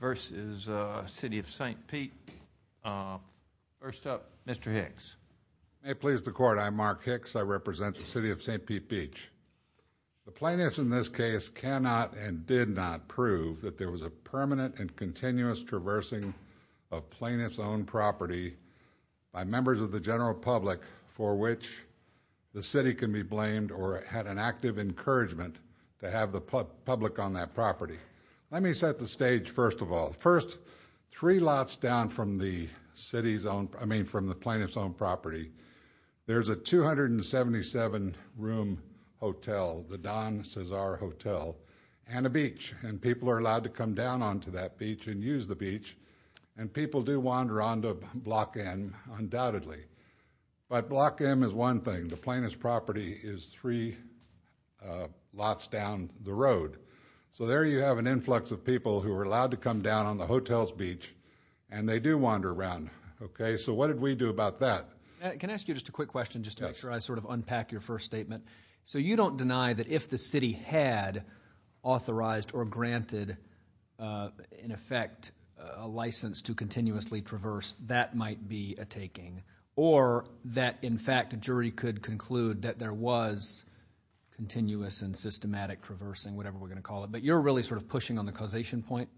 v. City of St. Pete. First up, Mr. Hicks. May it please the Court, I'm Mark Hicks. I represent the City of St. Pete Beach. The plaintiffs in this case cannot and did not prove that there was a permanent and continuous traversing of plaintiff's own property by members of the general public for which the City can be blamed or had an active encouragement to have the public on that property. Let me set the stage first of all. First, three lots down from the city's own, I mean from the plaintiff's own property, there's a 277-room hotel, the Don Cesar Hotel, and a beach. And people are allowed to come down onto that beach and use the beach. And people do wander onto Block M, undoubtedly. But Block M is one thing. The plaintiff's property is three lots down the road. So there you have an influx of people who are allowed to come down on the hotel's beach, and they do wander around. Okay, so what did we do about that? Can I ask you just a quick question just to make sure I sort of unpack your first statement? So you don't deny that if the city had authorized or granted, in effect, a license to continuously traverse, that might be a taking, or that, in fact, a jury could conclude that there was continuous and systematic traversing, whatever we're going to call it. But you're really sort of pushing on the causation point?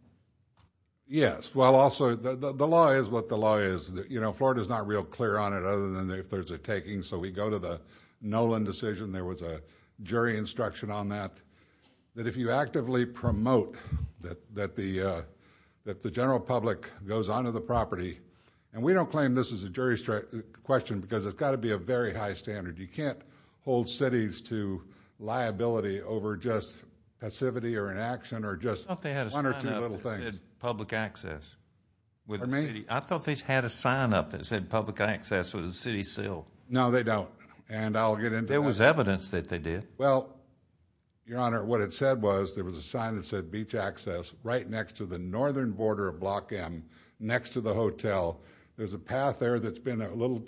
Yes. Well, also, the law is what the law is. You know, Florida's not real clear on it other than if there's a taking. So we go to the Nolan decision, there was a jury instruction on that, that if you actively promote that the general public goes onto the property. And we don't claim this is a jury question because it's got to be a very high standard. You can't hold cities to liability over just passivity or inaction or just one or two little things. I thought they had a sign up that said public access. I thought they had a sign up that said public access was a city seal. No, they don't. And I'll get into that. There was evidence that they did. Well, Your Honor, what it said was there was a sign that said beach access right next to the northern border of Block M, next to the hotel. There's a path there that's been a little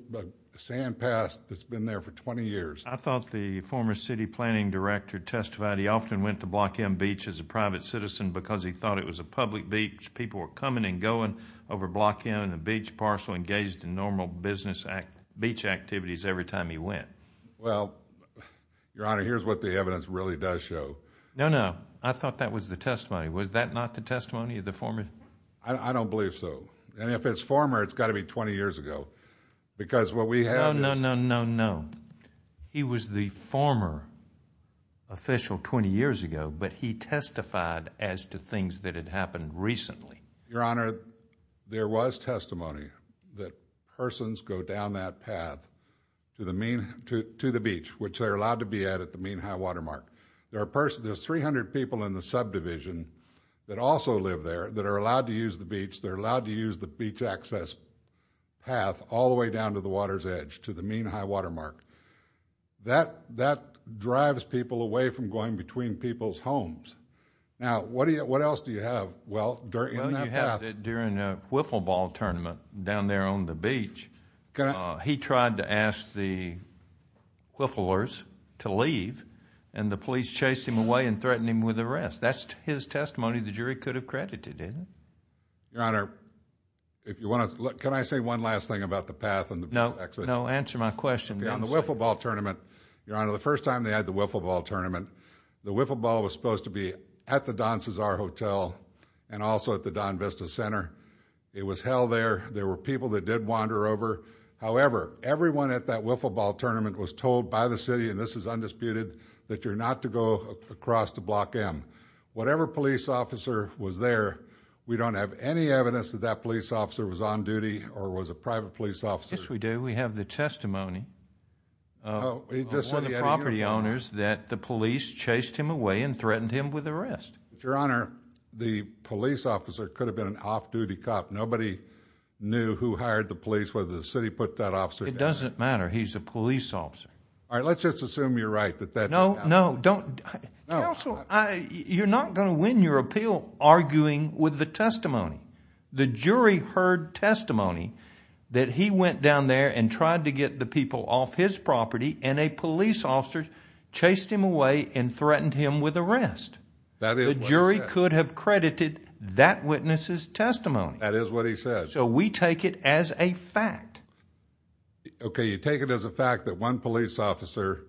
sand pass that's been there for 20 years. I thought the former city planning director testified he often went to Block M Beach as a private citizen because he thought it was a public beach. People were coming and going over Block M and the beach parcel engaged in normal business beach activities every time he went. Well, Your Honor, here's what the evidence really does show. No, no. I thought that was the testimony. Was that not the testimony of the former? I don't believe so. And if it's former, it's got to be 20 years ago. Because what we have No, no, no, no, no. He was the former official 20 years ago, but he testified as to things that had happened recently. Your Honor, there was testimony that persons go down that path to the beach, which they're allowed to be at at the Mean High Watermark. There's 300 people in the subdivision that also live there that are allowed to use the beach. They're allowed to use the beach access path all the way down to the water's edge to the Mean High Watermark. That drives people away from going between people's homes. Now, what else do you have? Well, during that path down there on the beach, he tried to ask the whifflers to leave, and the police chased him away and threatened him with arrest. That's his testimony. The jury could have credited him. Your Honor, if you want to look, can I say one last thing about the path? No, no. Answer my question. On the Wiffle Ball tournament, Your Honor, the first time they had the Wiffle Ball tournament, the Wiffle Ball was supposed to be at the Don Cesar Hotel and also at the Don Vista Center. It was held there. There were people that did wander over. However, everyone at that Wiffle Ball tournament was told by the city, and this is undisputed, that you're not to go across to Block M. Whatever police officer was there, we don't have any evidence that that police officer was on duty or was a private police officer. Yes, we do. We have the testimony of one of the property owners that the police chased him away and threatened him with arrest. Your Honor, the police officer could have been an off-duty cop. Nobody knew who hired the police, whether the city put that officer there. It doesn't matter. He's a police officer. All right, let's just assume you're right. No, no, don't. You're not going to win your appeal arguing with the testimony. The jury heard testimony that he went down there and tried to get the people off his property, and a police officer chased him away and threatened him with arrest. The jury could have credited that witness's testimony. That is what he said. So we take it as a fact. Okay, you take it as a fact that one police officer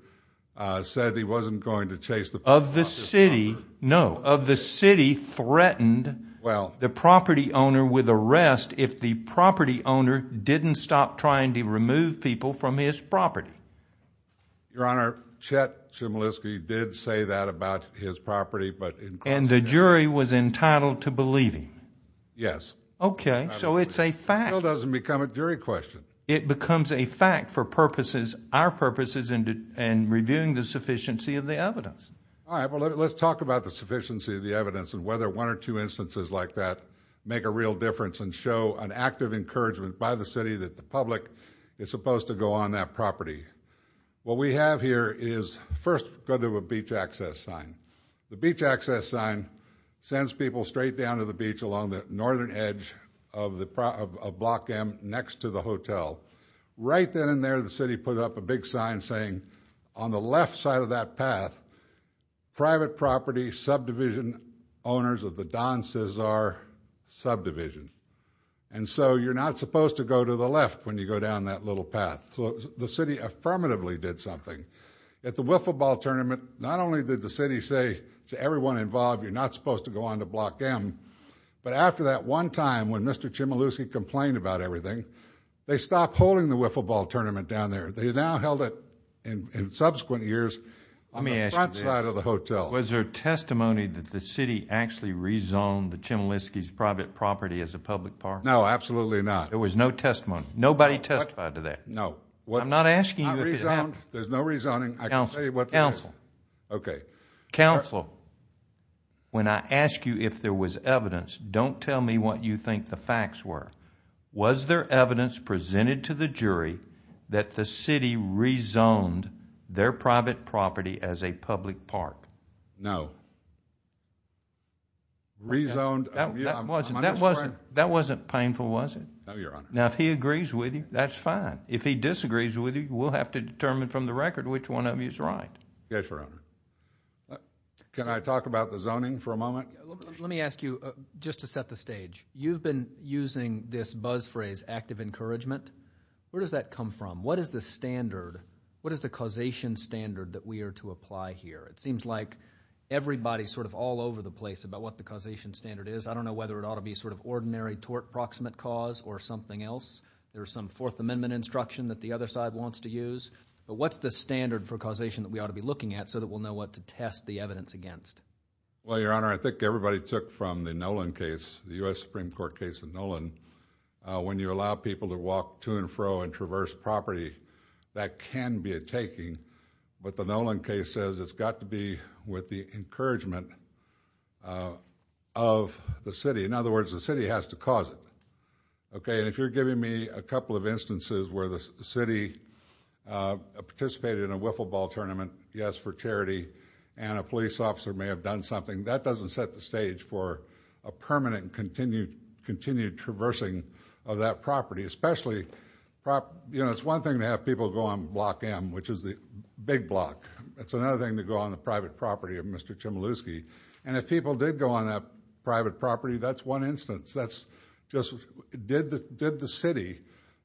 said he wasn't going to chase the... Of the city. No, of the city threatened the property owner with arrest if the property owner didn't stop trying to remove people from his property. Your Honor, Chet Chmielewski did say that about his property, but... And the jury was entitled to believe him. Yes. Okay, so it's a fact. It still doesn't become a jury question. It becomes a fact for purposes, our purposes, and reviewing the sufficiency of the evidence. All right, well, let's talk about the sufficiency of the evidence and whether one or two instances like that make a real difference and show an act of encouragement by the city that the public is supposed to go on that property. What we have here is, first, go to a beach access sign. The beach access sign sends people straight down to the beach along the northern edge of Block M next to the hotel. Right then and there, the city put up a big sign saying, on the left side of that path, private property subdivision owners of the Don Cesar subdivision. And so you're not supposed to go to the left when you go down that little path. So the city affirmatively did something. At the wiffle ball tournament, not only did the city say to everyone involved, you're not supposed to go on to Block M, but after that one time when Mr. Chmielewski complained about everything, they stopped holding the wiffle ball tournament down there. They now held it in subsequent years on the front side of the hotel. Let me ask you this. Was there testimony that the city actually rezoned the Chmielewski's private property as a public park? No, absolutely not. There was no testimony. Nobody testified to that. No. I'm not asking you if it happened. I rezoned. There's no rezoning. I can tell you what happened. Counsel. Okay. Counsel, when I ask you if there was evidence, don't tell me what you think the facts were. Was there evidence presented to the jury that the city rezoned their private property as a public park? No. Rezoned. That wasn't painful, was it? No, your honor. Now, if he agrees with you, that's fine. If he disagrees with you, we'll have to determine from the record which one of you is right. Yes, your honor. Can I talk about the zoning for a moment? Let me ask you just to set the stage. You've been using this buzz phrase, active encouragement. Where does that come from? What is the standard? What is the causation standard that we are to apply here? It seems like everybody's sort of all over the place about what the causation standard is. I don't know whether it ought to be sort of ordinary tort proximate cause or something else. There's some fourth amendment instruction that the other side wants to use. But what's the standard for causation that we ought to be looking at so that we'll know what to test the evidence against? Well, your honor, I think everybody took from the Nolan case, the U.S. Supreme Court case of Nolan. When you allow people to walk to and fro and traverse property, that can be a taking. But the Nolan case says it's got to be with the encouragement of the city. In other words, the city has to cause it. Okay, and if you're giving me a couple of instances where the city participated in a wiffle ball tournament, yes, for charity, and a police officer may have done something, that doesn't set the stage for a permanent continued traversing of that property. Especially, you know, it's one thing to have people go on Block M, which is the big block. It's another thing to go on the private property of Mr. Chmielewski. And if people did go on that private property, that's one instance. That's just, did the city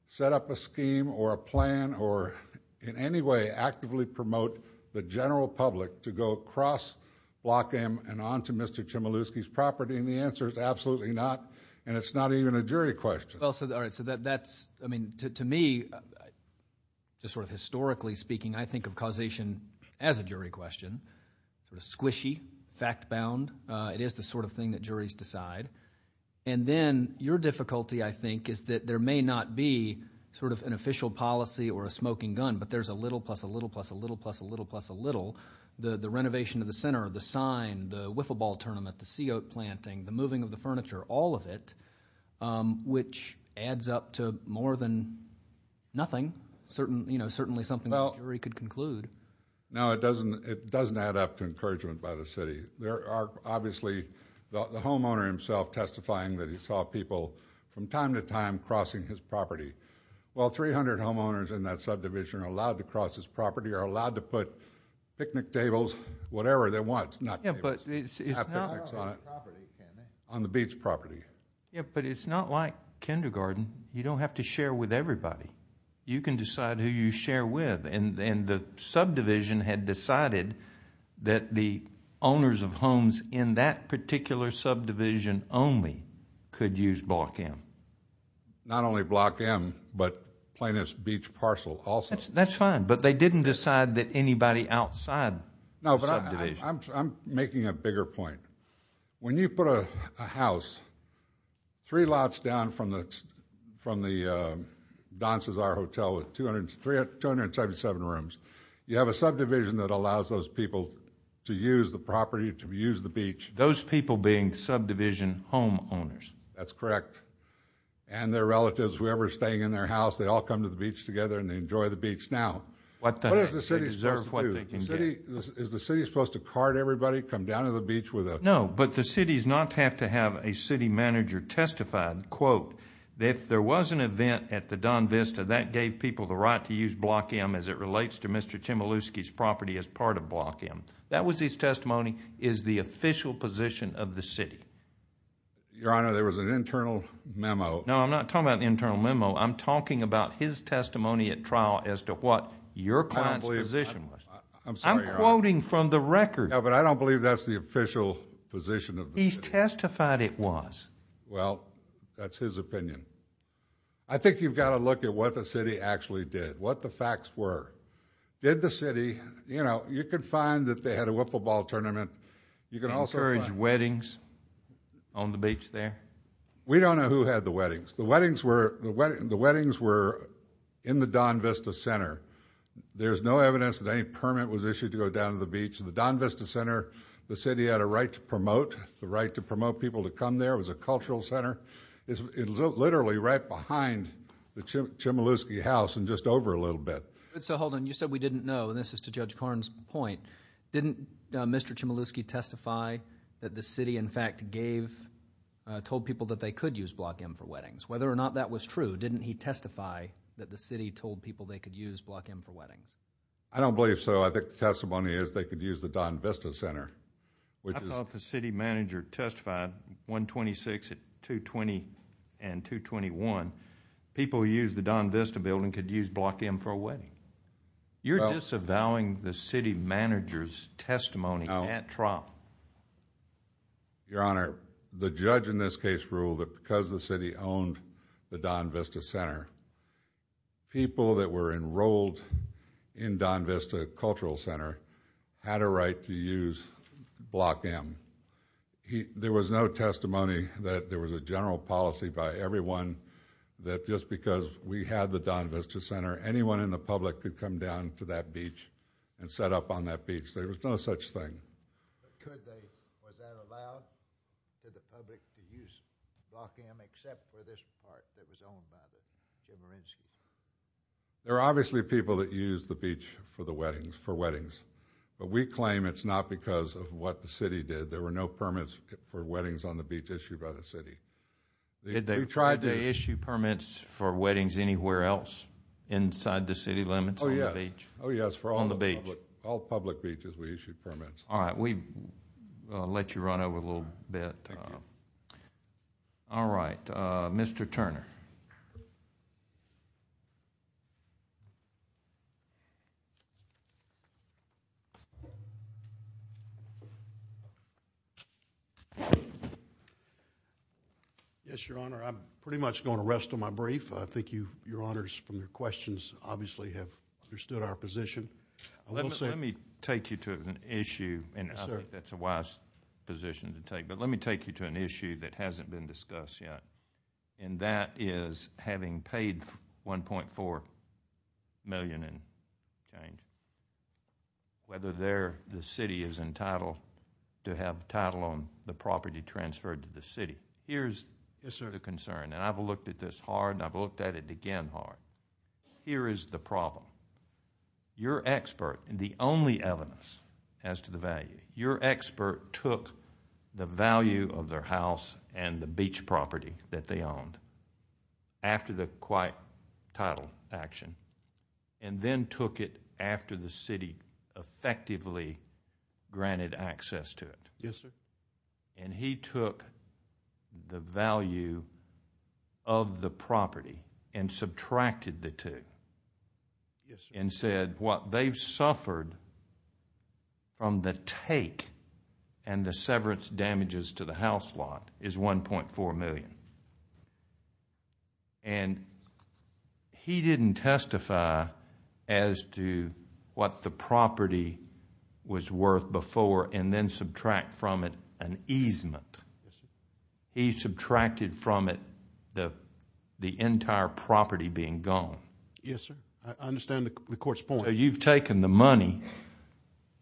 set up a scheme or a plan or in any way actively promote the general public to go across Block M and on to Mr. Chmielewski's property? And the answer is absolutely not. And it's not even a jury question. Well, so that's, I mean, to me, just sort of historically speaking, I think of causation as a jury question, sort of squishy, fact-bound. It is the sort of thing that juries decide. And then your difficulty, I think, is that there may not be sort of an official policy or a smoking gun, but there's a little plus, a little plus, a little plus, a little plus, a little. The renovation of the center, the sign, the wiffle ball tournament, the sea oat planting, the moving of the furniture, all of it, which adds up to more than nothing. Certain, you know, certainly something the jury could conclude. No, it doesn't. It doesn't add up to encouragement by the city. There are obviously, the homeowner himself testifying that he saw people from time to time crossing his property. Well, 300 homeowners in that subdivision are allowed to cross his property, are allowed to put picnic tables, whatever they want, not tables, not picnics on it, on the beach property. Yeah, but it's not like kindergarten. You don't have to share with everybody. You can decide who you share with. And the subdivision had decided that the owners of homes in that particular subdivision only could use block M. Not only block M, but plaintiff's beach parcel also. That's fine, but they didn't decide that anybody outside the subdivision. No, but I'm making a bigger point. When you put a house three lots down from the Don Cesar Hotel with 277 rooms, you have a subdivision that allows those people to use the property, to use the beach. Those people being subdivision homeowners. That's correct. And their relatives, whoever's staying in their house, they all come to the beach together and they enjoy the beach now. What does the city deserve what they can get? Is the city supposed to card everybody, come down to the beach with them? No, but the city does not have to have a city manager testified, quote, if there was an event at the Don Vista that gave people the right to use block M as it relates to Mr. Chmielewski's property as part of block M. That was his testimony, is the official position of the city. Your honor, there was an internal memo. No, I'm not talking about the internal memo. I'm talking about his testimony at trial as to what your client's position was. I'm quoting from the record. No, but I don't believe that's the official position of the city. He's testified it was. Well, that's his opinion. I think you've got to look at what the city actually did, what the facts were. Did the city, you know, you could find that they had a wiffleball tournament. You can also encourage weddings on the beach there. We don't know who had the weddings. The weddings were in the Don Vista Center. There's no evidence that any permit was issued to go down to the beach. The Don Vista Center, the city had a right to promote, the right to promote people to come there. It was a cultural center. It's literally right behind the Chmielewski house and just over a little bit. So, hold on. You said we didn't know, and this is to Judge Karn's point. Didn't Mr. Chmielewski testify that the city, in fact, gave, told people that they could use block M for weddings? Whether or not that was true, didn't he testify that the city told people they could use block M for weddings? I don't believe so. I think the testimony is they could use the Don Vista Center. I thought the city manager testified 126 at 220 and 221. People who use the Don Vista building could use block M for a wedding. You're disavowing the city manager's testimony at TROP. Your Honor, the judge in this case ruled that because the city owned the Don Vista Center, people that were enrolled in Don Vista Cultural Center had a right to use block M. There was no testimony that there was a general policy by everyone that just because we had the Don Vista Center, anyone in the public could come down to that beach and set up on that beach. There was no such thing. But could they? Was that allowed to the public to use block M except for this part that was owned by the Chmielewski's? There are obviously people that use the beach for the weddings, for weddings. But we claim it's not because of what the city did. There were no permits for weddings on the beach issued by the city. Did they try to issue permits for weddings anywhere else inside the city limits? Oh, yes. Oh, yes. For all the beach. All public beaches we issued permits. All right. We let you run over a little bit. All right, Mr. Turner. Yes, Your Honor, I'm pretty much going to rest on my brief. I think you, Your Honors, from your questions obviously have understood our position. Let me take you to an issue. And I think that's a wise position to take. But let me take you to an issue that hasn't been discussed yet. And that is having paid $1.4 million in change. Whether the city is entitled to have title on the property transferred to the city. Here's the concern. And I've looked at this hard. And I've looked at it again hard. Here is the problem. Your expert, the only evidence as to the value, your expert took the value of their house and the beach property that they owned after the quiet title action. And then took it after the city effectively granted access to it. Yes, sir. And he took the value of the property and subtracted the two. Yes, sir. And said what they've suffered from the take and the severance damages to the house lot is $1.4 million. And he didn't testify as to what the property was worth before and then subtract from it an easement. He subtracted from it the entire property being gone. Yes, sir. I understand the court's point. So you've taken the money.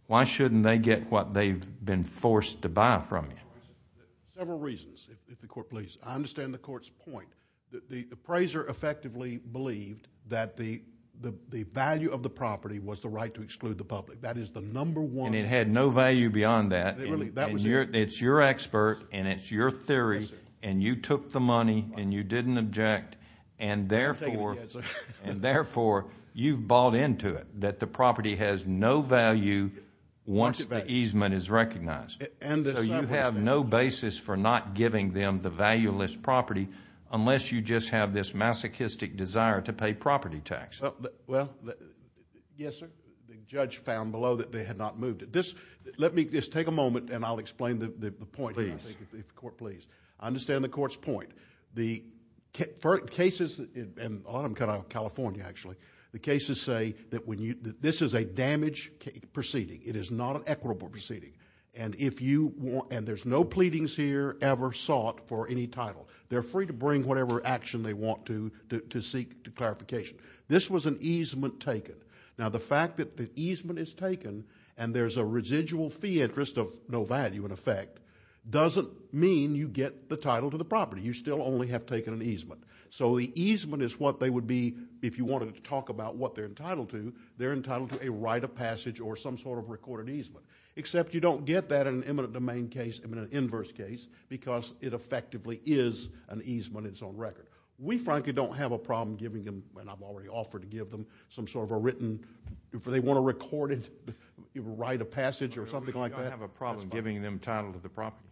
Why shouldn't they get what they've been forced to buy from you? Several reasons, if the court please. I understand the court's point. The appraiser effectively believed that the value of the property was the right to exclude the public. That is the number one. And it had no value beyond that. It's your expert and it's your theory. And you took the money and you didn't object. And therefore, you've bought into it that the property has no value once the easement is recognized. And so you have no basis for not giving them the valueless property unless you just have this masochistic desire to pay property taxes. Well, yes, sir. The judge found below that they had not moved it. Let me just take a moment and I'll explain the point, if the court please. I understand the court's point. The cases, and a lot of them come out of California, actually. The cases say that this is a damaged proceeding. It is not an equitable proceeding. And there's no pleadings here ever sought for any title. They're free to bring whatever action they want to seek clarification. This was an easement taken. Now, the fact that the easement is taken and there's a residual fee interest of no value in effect doesn't mean you get the title to the property. You still only have taken an easement. So the easement is what they would be if you wanted to talk about what they're entitled to. They're entitled to a right of passage or some sort of recorded easement. Except you don't get that in an eminent domain case, in an inverse case, because it effectively is an easement on its own record. We frankly don't have a problem giving them, and I've already offered to give them, some sort of a written, if they want to record it, write a passage or something like that. We don't have a problem giving them title to the property.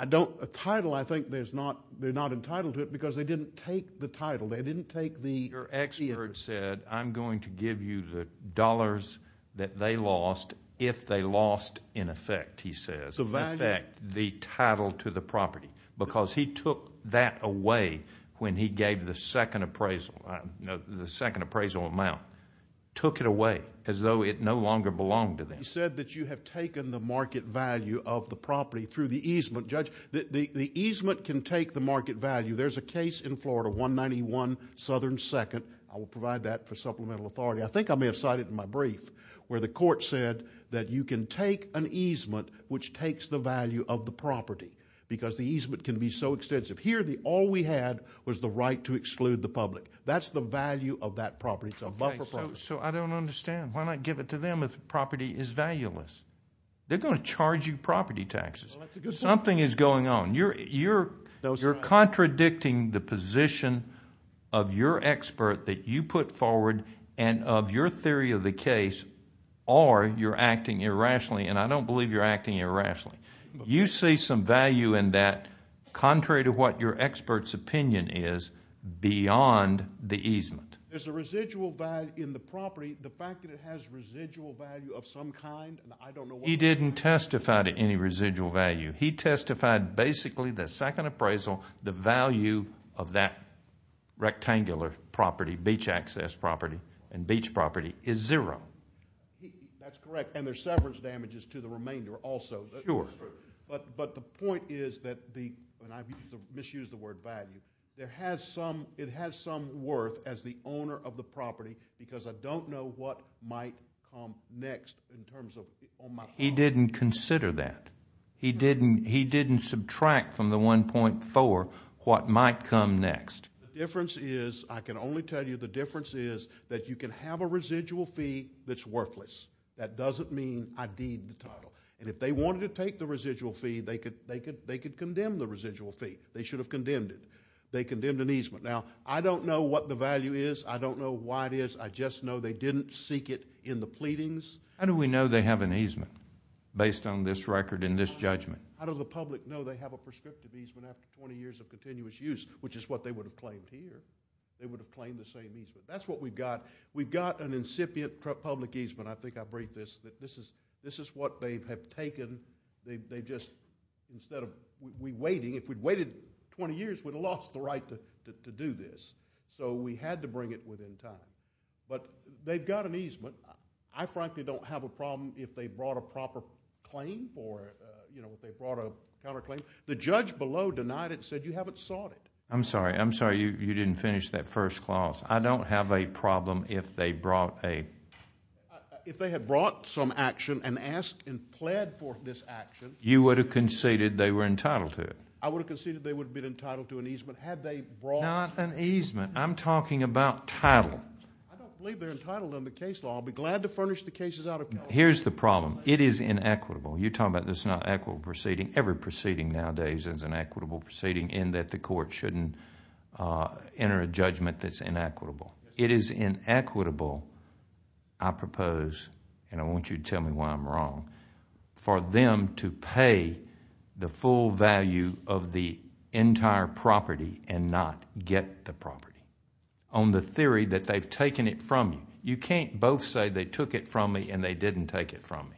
I don't, a title I think they're not entitled to it because they didn't take the title. They didn't take the... They lost, in effect, he says, the title to the property because he took that away when he gave the second appraisal. The second appraisal amount took it away as though it no longer belonged to them. He said that you have taken the market value of the property through the easement. Judge, the easement can take the market value. There's a case in Florida, 191 Southern 2nd. I will provide that for supplemental authority. I think I may have cited in my brief where the court said that you can take an easement which takes the value of the property because the easement can be so extensive. Here, all we had was the right to exclude the public. That's the value of that property. It's a buffer property. So I don't understand. Why not give it to them if the property is valueless? They're going to charge you property taxes. Something is going on. You're contradicting the position of your expert that you put forward and of your theory of the case or you're acting irrationally. I don't believe you're acting irrationally. You see some value in that contrary to what your expert's opinion is beyond the easement. There's a residual value in the property. The fact that it has residual value of some kind, I don't know what that is. He didn't testify to any residual value. He testified basically the second appraisal, the value of that rectangular property, beach access property and beach property is zero. That's correct. And there's severance damages to the remainder also. But the point is that the, and I misused the word value, it has some worth as the owner of the property because I don't know what might come next in terms of on my part. He didn't consider that. He didn't subtract from the 1.4 what might come next. The difference is, I can only tell you the difference is that you can have a residual fee that's worthless. That doesn't mean I deed the title. And if they wanted to take the residual fee, they could condemn the residual fee. They should have condemned it. They condemned an easement. Now, I don't know what the value is. I don't know why it is. I just know they didn't seek it in the pleadings. How do we know they have an easement based on this record and this judgment? How does the public know they have a prescriptive easement after 20 years of continuous use, which is what they would have claimed here? They would have claimed the same easement. That's what we've got. We've got an incipient public easement. I think I break this. This is what they have taken. They've just, instead of, we're waiting. If we'd waited 20 years, we'd have lost the right to do this. So we had to bring it within time. But they've got an easement. I frankly don't have a problem if they brought a proper claim or, you know, if they brought a counterclaim. The judge below denied it and said you haven't sought it. I'm sorry. I'm sorry you didn't finish that first clause. I don't have a problem if they brought a. If they had brought some action and asked and pled for this action. You would have conceded they were entitled to it. I would have conceded they would have been entitled to an easement had they brought. Not an easement. I'm talking about title. I don't believe they're entitled under case law. I'll be glad to furnish the cases out. Here's the problem. It is inequitable. You're talking about this not equitable proceeding. Every proceeding nowadays is an equitable proceeding in that the court shouldn't enter a judgment that's inequitable. It is inequitable. I propose and I want you to tell me why I'm wrong. For them to pay the full value of the entire property and not get the property. On the theory that they've taken it from you. You can't both say they took it from me and they didn't take it from me.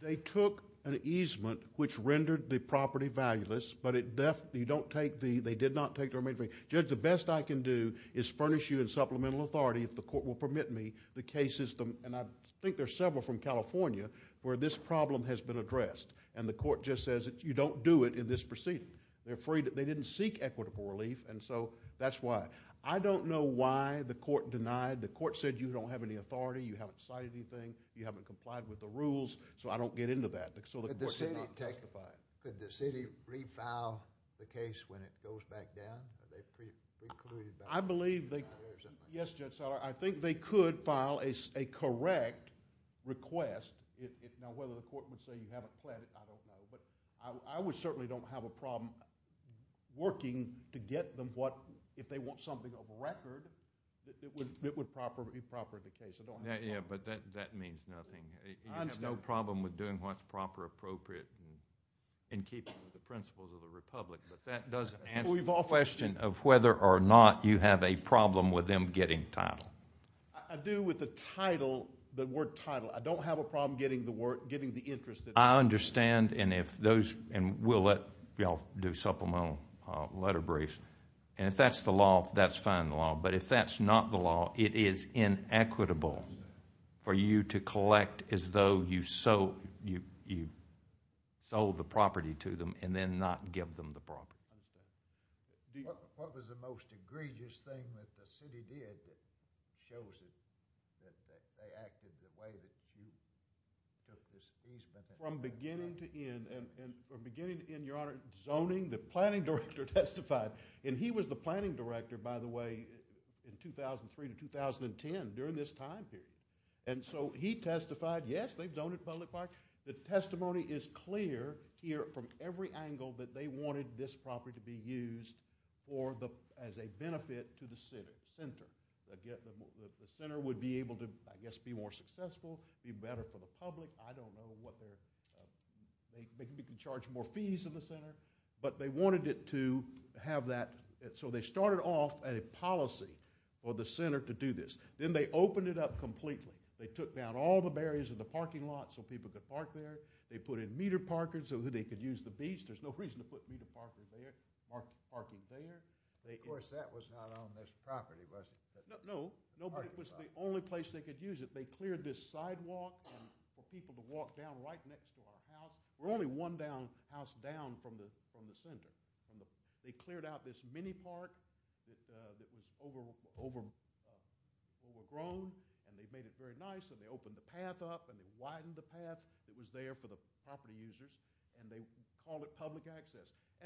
They took an easement which rendered the property valueless but they did not take the remaining. Judge, the best I can do is furnish you in supplemental authority if the court will permit me the case system and I think there's several from California where this problem has been addressed and the court just says that you don't do it in this proceeding. They're afraid that they didn't seek equitable relief and so that's why. I don't know why the court denied. The court said you don't have any authority. You haven't decided anything. You haven't complied with the rules. So I don't get into that. Could the city refile the case when it goes back down? I believe they could file a correct request. Now whether the court would say you haven't planned it, I don't know. I certainly don't have a problem working to get them what, if they want something of a record, it would be proper in the case. That means nothing. I have no problem with doing what's proper appropriate and keeping the principles of the republic but that doesn't answer the question of whether or not you have a problem with them getting title. I do with the title, the word title. I don't have a problem getting the interest. I understand and we'll let y'all do supplemental letter briefs and if that's the law, that's fine the law but if that's not the law, it is inequitable for you to collect as though you sold the property to them and then not give them the property. What was the most egregious thing that the city did that shows that they acted the way that you took this case? From beginning to end and from beginning to end, your honor, zoning, the planning director testified and he was the planning director, by the way, in 2003 to 2010 during this time period and so he testified, yes, they've zoned at public park. The testimony is clear here from every angle that they wanted this property to be used for the, as a benefit to the center. The center would be able to, I guess, be more successful, be better for the public. I don't know what they're, they can charge more fees in the center but they wanted it to have that, so they started off a policy for the center to do this. Then they opened it up completely. They took down all the barriers in the parking lot so people could park there. They put in meter parkers so that they could use the beach. There's no reason to put meter parkers there, parking there. Of course, that was not on this property, was it? No, nobody, it was the only place they could use it. They cleared this sidewalk for people to walk down right next to our house. We're only one house down from the center. They cleared out this mini park that was overgrown and they made it very nice and they opened the path up and they widened the path that was there for the property users and they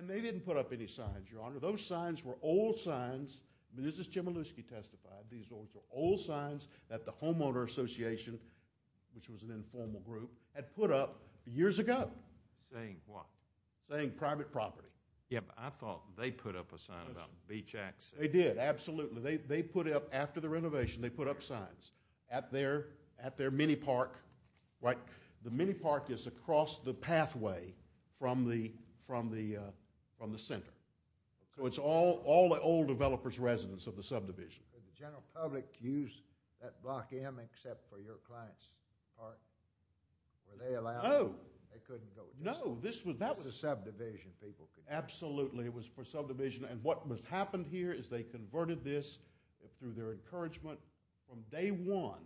They didn't put up any signs, your honor. Those signs were old signs. Mrs. Chmielewski testified. These were old signs that the Homeowner Association, which was an informal group, had put up years ago. Saying what? Saying private property. Yeah, but I thought they put up a sign about beach access. They did, absolutely. They put up, after the renovation, they put up signs at their mini park. The mini park is across the pathway from the center. It's all the old developer's residence of the subdivision. Did the general public use that block M except for your client's park? Were they allowed? No. They couldn't go there? No, this was That's the subdivision people could use. Absolutely, it was for subdivision and what has happened here is they converted this through their encouragement from day one.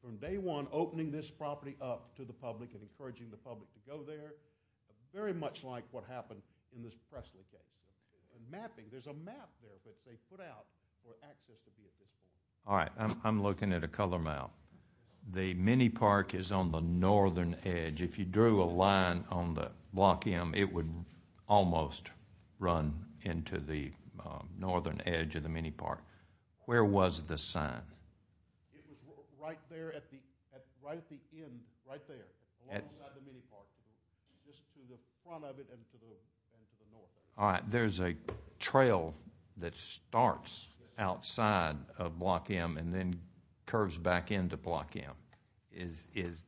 From day one, opening this property up to the public and encouraging the public to go there, very much like what happened in this Presley case. Mapping, there's a map there that they put out for access to be at this point. All right, I'm looking at a color map. The mini park is on the northern edge. If you drew a line on the block M, it would almost run into the northern edge of the mini park. Where was this sign? It was right there at the end, right there, along the side of the mini park. Just to the front of it and to the north of it. All right, there's a trail that starts outside of block M and then curves back into block M. It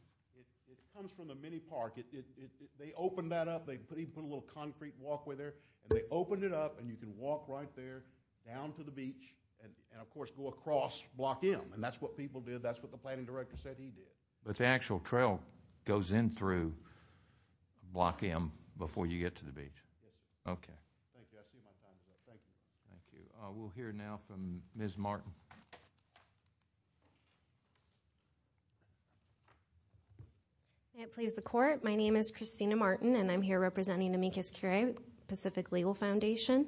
comes from the mini park. They opened that up. They even put a little concrete walkway there and they opened it up and you can walk right there down to the beach and of course go across block M and that's what people did. That's what the planning director said he did. But the actual trail goes in through block M before you get to the beach. Okay. Thank you. I see my time is up. Thank you. Thank you. We'll hear now from Ms. Martin. May it please the court. My name is Christina Martin and I'm here representing Amicus Cure Pacific Legal Foundation.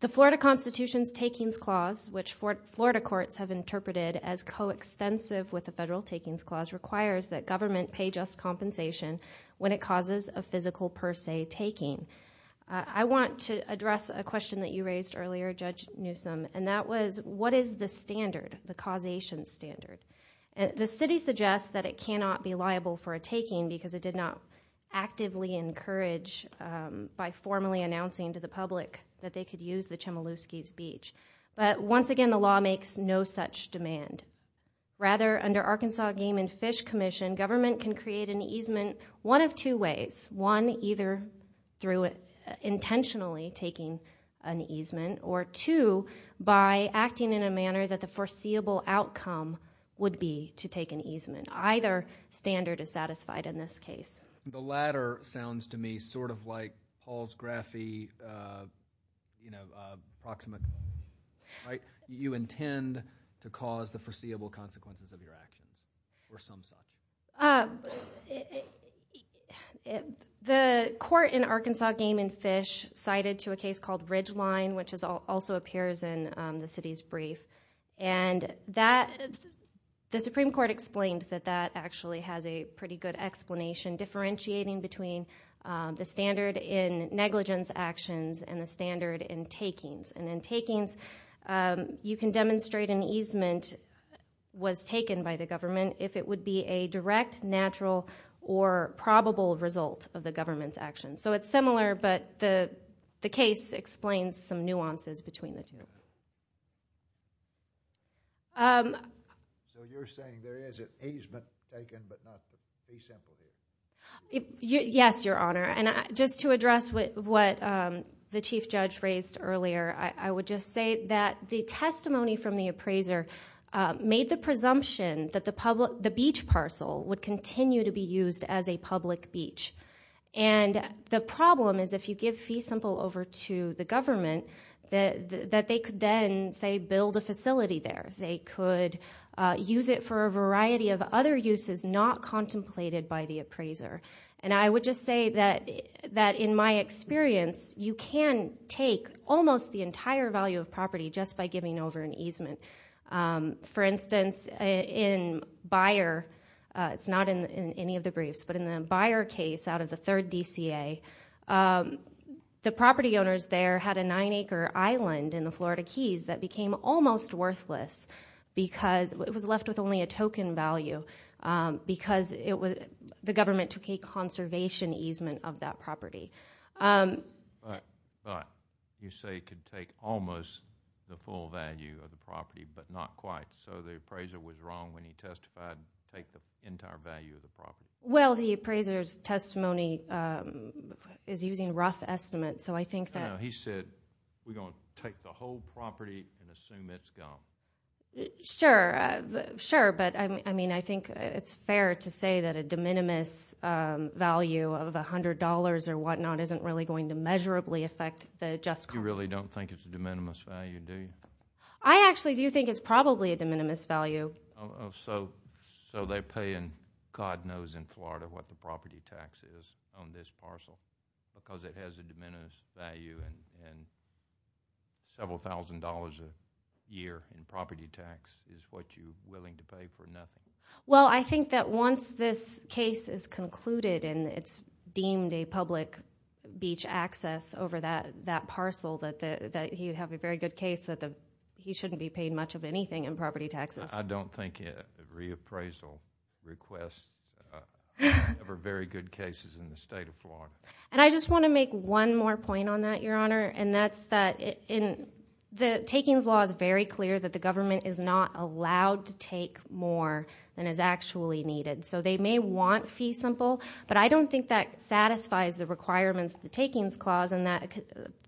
The Florida Constitution's Takings Clause, which Florida courts have interpreted as extensive with the Federal Takings Clause, requires that government pay just compensation when it causes a physical per se taking. I want to address a question that you raised earlier, Judge Newsom, and that was what is the standard, the causation standard? The city suggests that it cannot be liable for a taking because it did not actively encourage by formally announcing to the public that they could use the Chmielewski's Beach. But once again, the law makes no such demand. Rather, under Arkansas Game and Fish Commission, government can create an easement one of two ways. One, either through intentionally taking an easement, or two, by acting in a manner that the foreseeable outcome would be to take an easement. Either standard is satisfied in this case. The latter sounds to me sort of like Paul's graphy, you know, approximate, right? You intend to cause the foreseeable consequences of your actions, or some such. The court in Arkansas Game and Fish cited to a case called Ridgeline, which also appears in the city's brief. And that, the Supreme Court explained that that actually has a pretty good explanation differentiating between the standard in negligence actions and the standard in takings. And in takings, you can demonstrate an easement was taken by the government if it would be a direct, natural, or probable result of the government's actions. So it's similar, but the case explains some nuances between the two. So you're saying there is an easement taken, but not a simple easement? Yes, Your Honor. Just to address what the Chief Judge raised earlier, I would just say that the testimony from the appraiser made the presumption that the beach parcel would continue to be used as a public beach. And the problem is if you give fee simple over to the government, that they could then, say, build a facility there. They could use it for a variety of other uses not contemplated by the appraiser. And I would just say that in my experience, you can take almost the entire value of property just by giving over an easement. For instance, in Beyer, it's not in any of the briefs, but in the Beyer case out of the third DCA, the property owners there had a nine-acre island in the Florida Keys that became almost worthless because it was left with only a token value because the government took a conservation easement of that property. But you say it could take almost the full value of the property, but not quite. So the appraiser was wrong when he testified, take the entire value of the property. Well, the appraiser's testimony is using rough estimates. So I think that— He said, we're going to take the whole property and assume it's gone. Sure, sure. But I mean, I think it's fair to say that a de minimis value of $100 or whatnot isn't really going to measurably affect the just cause. You really don't think it's a de minimis value, do you? I actually do think it's probably a de minimis value. So they're paying, God knows in Florida, what the property tax is on this parcel because it has a de minimis value and several thousand dollars a year in property tax is what you're willing to pay for nothing. Well, I think that once this case is concluded and it's deemed a public beach access over that parcel, that you have a very good case that he shouldn't be paid much of anything in property taxes. I don't think reappraisal requests are very good cases in the state of Florida. And I just want to make one more point on that, Your Honor, and that's that the takings law is very clear that the government is not allowed to take more than is actually needed. So they may want fee simple, but I don't think that satisfies the requirements of the takings clause. And that,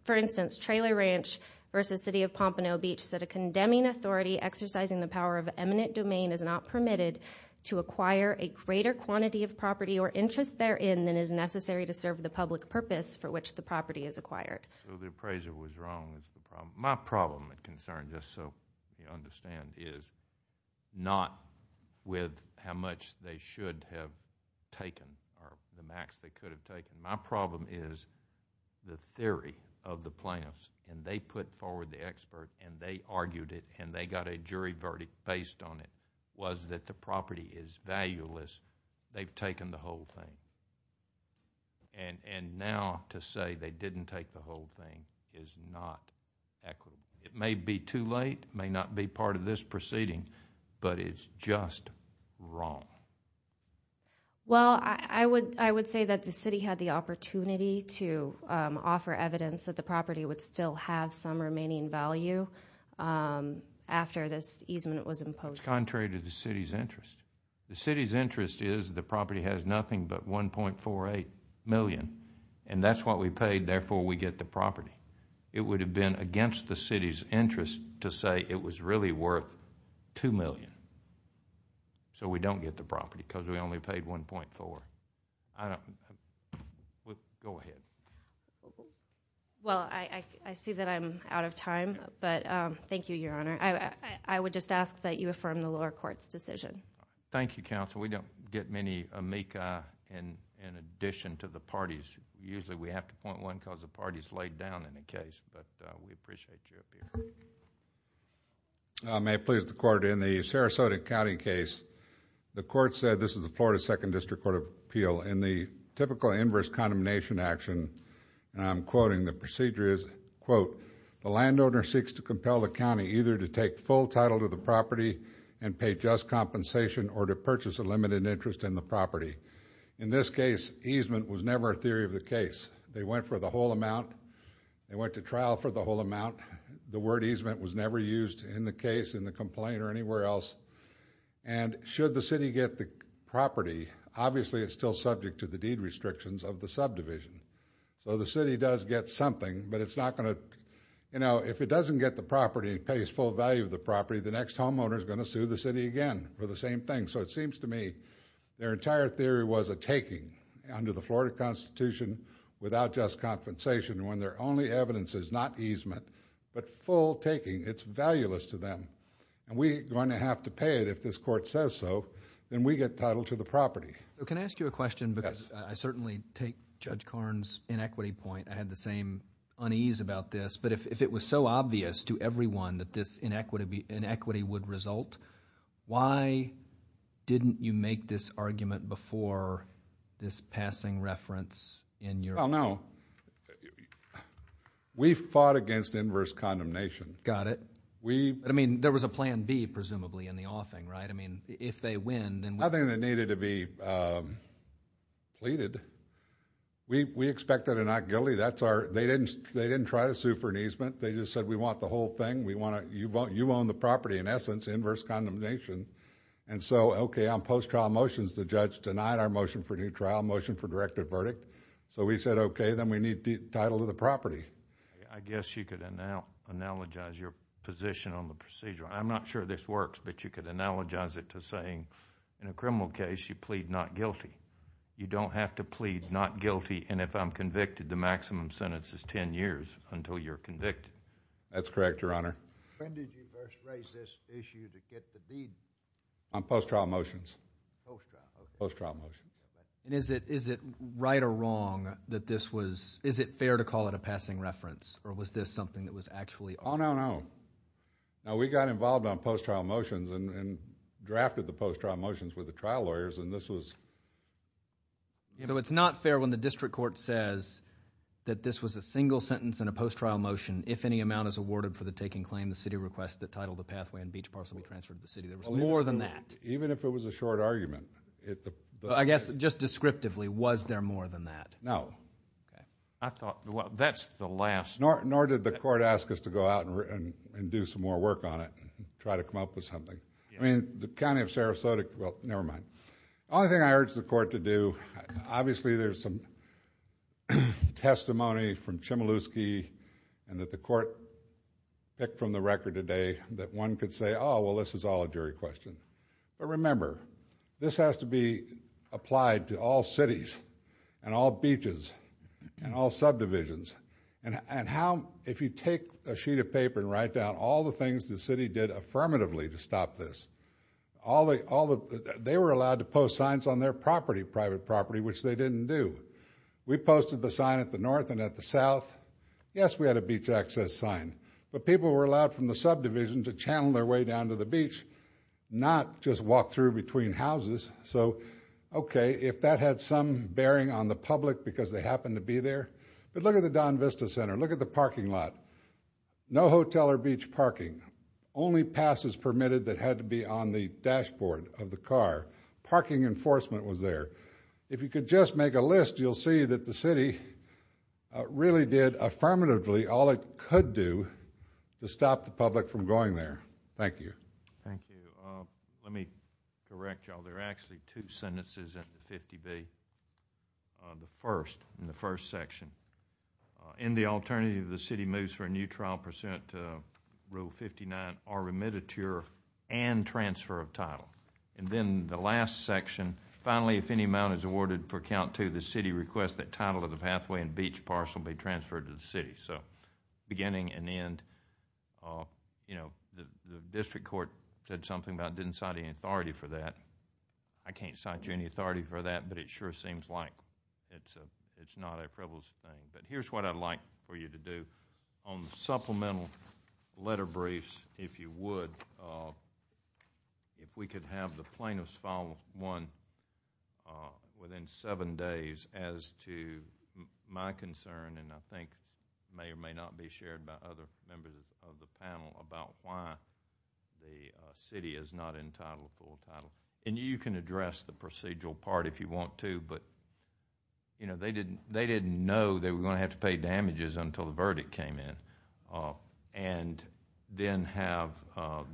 for instance, Traylor Ranch versus City of Pompano Beach said a condemning authority exercising the power of eminent domain is not permitted to acquire a greater quantity of property or interest therein than is necessary to serve the public purpose for which the property is acquired. So the appraiser was wrong is the problem. My problem and concern, just so you understand, is not with how much they should have taken or the max they could have taken. My problem is the theory of the plaintiffs and they put forward the expert and they argued it and they got a jury verdict based on it was that the property is valueless. They've taken the whole thing. And now to say they didn't take the whole thing is not equitable. It may be too late, may not be part of this proceeding, but it's just wrong. Well, I would say that the city had the opportunity to offer evidence that the property would still have some remaining value after this easement was imposed. It's contrary to the city's interest. The city's interest is the property has nothing but $1.48 million and that's what we paid. Therefore, we get the property. It would have been against the city's interest to say it was really worth $2 million. So we don't get the property because we only paid $1.4. Go ahead. Well, I see that I'm out of time, but thank you, Your Honor. I would just ask that you affirm the lower court's decision. Thank you, counsel. We don't get many amica in addition to the parties. Usually we have to point one because the party's laid down in a case, but we appreciate you up here. I may please the court. In the Sarasota County case, the court said, this is the Florida Second District Court of Appeal. In the typical inverse condemnation action, and I'm quoting, the procedure is, quote, the landowner seeks to compel the county either to take full title to the property and pay just compensation or to purchase a limited interest in the property. In this case, easement was never a theory of the case. They went for the whole amount. They went to trial for the whole amount. The word easement was never used in the case, in the complaint, or anywhere else. And should the city get the property, obviously it's still subject to the deed restrictions of the subdivision. So the city does get something, but it's not going to, you know, if it doesn't get the property, they're going to sue the city again for the same thing. So it seems to me their entire theory was a taking under the Florida Constitution without just compensation when their only evidence is not easement, but full taking. It's valueless to them. And we're going to have to pay it if this court says so, then we get title to the property. So can I ask you a question? Because I certainly take Judge Karn's inequity point. I had the same unease about this, but if it was so obvious to everyone that this inequity would result, why didn't you make this argument before this passing reference in your? Well, no. We fought against inverse condemnation. Got it. We... I mean, there was a plan B, presumably, in the offing, right? I mean, if they win, then... Nothing that needed to be pleaded. We expected a not guilty. That's our... They didn't try to sue for an easement. They just said, we want the whole thing. You own the property, in essence, inverse condemnation. And so, okay, on post-trial motions, the judge denied our motion for new trial, motion for directive verdict. So we said, okay, then we need title to the property. I guess you could analogize your position on the procedure. I'm not sure this works, but you could analogize it to saying, in a criminal case, you plead not guilty. You don't have to plead not guilty. And if I'm convicted, the maximum sentence is 10 years until you're convicted. That's correct, Your Honor. When did you first raise this issue to get the deed? On post-trial motions. Post-trial, okay. Post-trial motions. And is it right or wrong that this was... Is it fair to call it a passing reference? Or was this something that was actually... Oh, no, no. No, we got involved on post-trial motions and drafted the post-trial motions with the trial lawyers, and this was... You know, it's not fair when the district court says that this was a single sentence in a post-trial motion, if any amount is awarded for the taking claim, the city requests that title, the pathway, and beach parcel be transferred to the city. There was more than that. Even if it was a short argument. I guess, just descriptively, was there more than that? No. I thought, well, that's the last... Nor did the court ask us to go out and do some more work on it, try to come up with something. I mean, the County of Sarasota... Well, never mind. The only thing I urge the court to do... Obviously, there's some testimony from Chmielewski and that the court picked from the record today that one could say, oh, well, this is all a jury question. But remember, this has to be applied to all cities and all beaches and all subdivisions. And how... If you take a sheet of paper and write down all the things the city did affirmatively to stop this, they were allowed to post signs on their property, private property, which they didn't do. We posted the sign at the north and at the south. Yes, we had a beach access sign. But people were allowed from the subdivision to channel their way down to the beach, not just walk through between houses. So, okay, if that had some bearing on the public because they happened to be there... But look at the Don Vista Center. Look at the parking lot. No hotel or beach parking. Only passes permitted that had to be on the dashboard of the car. Parking enforcement was there. If you could just make a list, you'll see that the city really did affirmatively all it could do to stop the public from going there. Thank you. Thank you. Let me correct y'all. There are actually two sentences in the 50B. The first, in the first section, in the alternative, the city moves for a new trial pursuant to Rule 59 are remitted to your and transfer of title. And then the last section, finally, if any amount is awarded for count to the city request that title of the pathway and beach parcel be transferred to the city. So, beginning and end. You know, the district court said something about didn't cite any authority for that. I can't cite you any authority for that, but it sure seems like it's not a privileged thing. But here's what I'd like for you to do on the supplemental letter briefs, if you would. So, if we could have the plaintiffs file one within seven days as to my concern and I think may or may not be shared by other members of the panel about why the city is not entitled to full title. And you can address the procedural part if you want to, but they didn't know they were going to have to pay damages until the verdict came in. And then have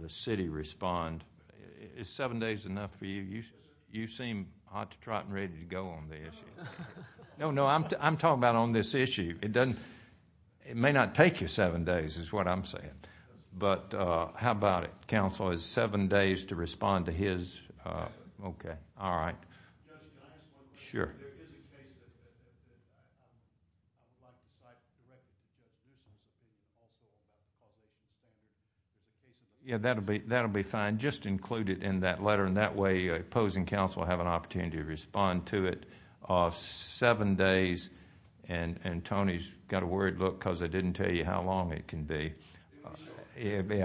the city respond. Is seven days enough for you? You seem hot to trot and ready to go on the issue. No, no, I'm talking about on this issue. It doesn't, it may not take you seven days is what I'm saying. But how about it? Counsel, is seven days to respond to his? Okay, all right. Judge, can I ask one more? Sure. Yeah, that'll be fine. Just include it in that letter and that way opposing counsel have an opportunity to respond to it of seven days. And Tony's got a worried look because I didn't tell you how long it can be. It'd be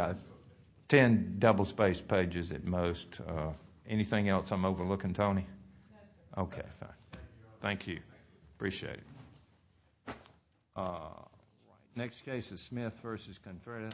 10 double spaced pages at most. Anything else I'm overlooking, Tony? Okay, fine. Thank you. Appreciate it. Next case is Smith versus Confreda.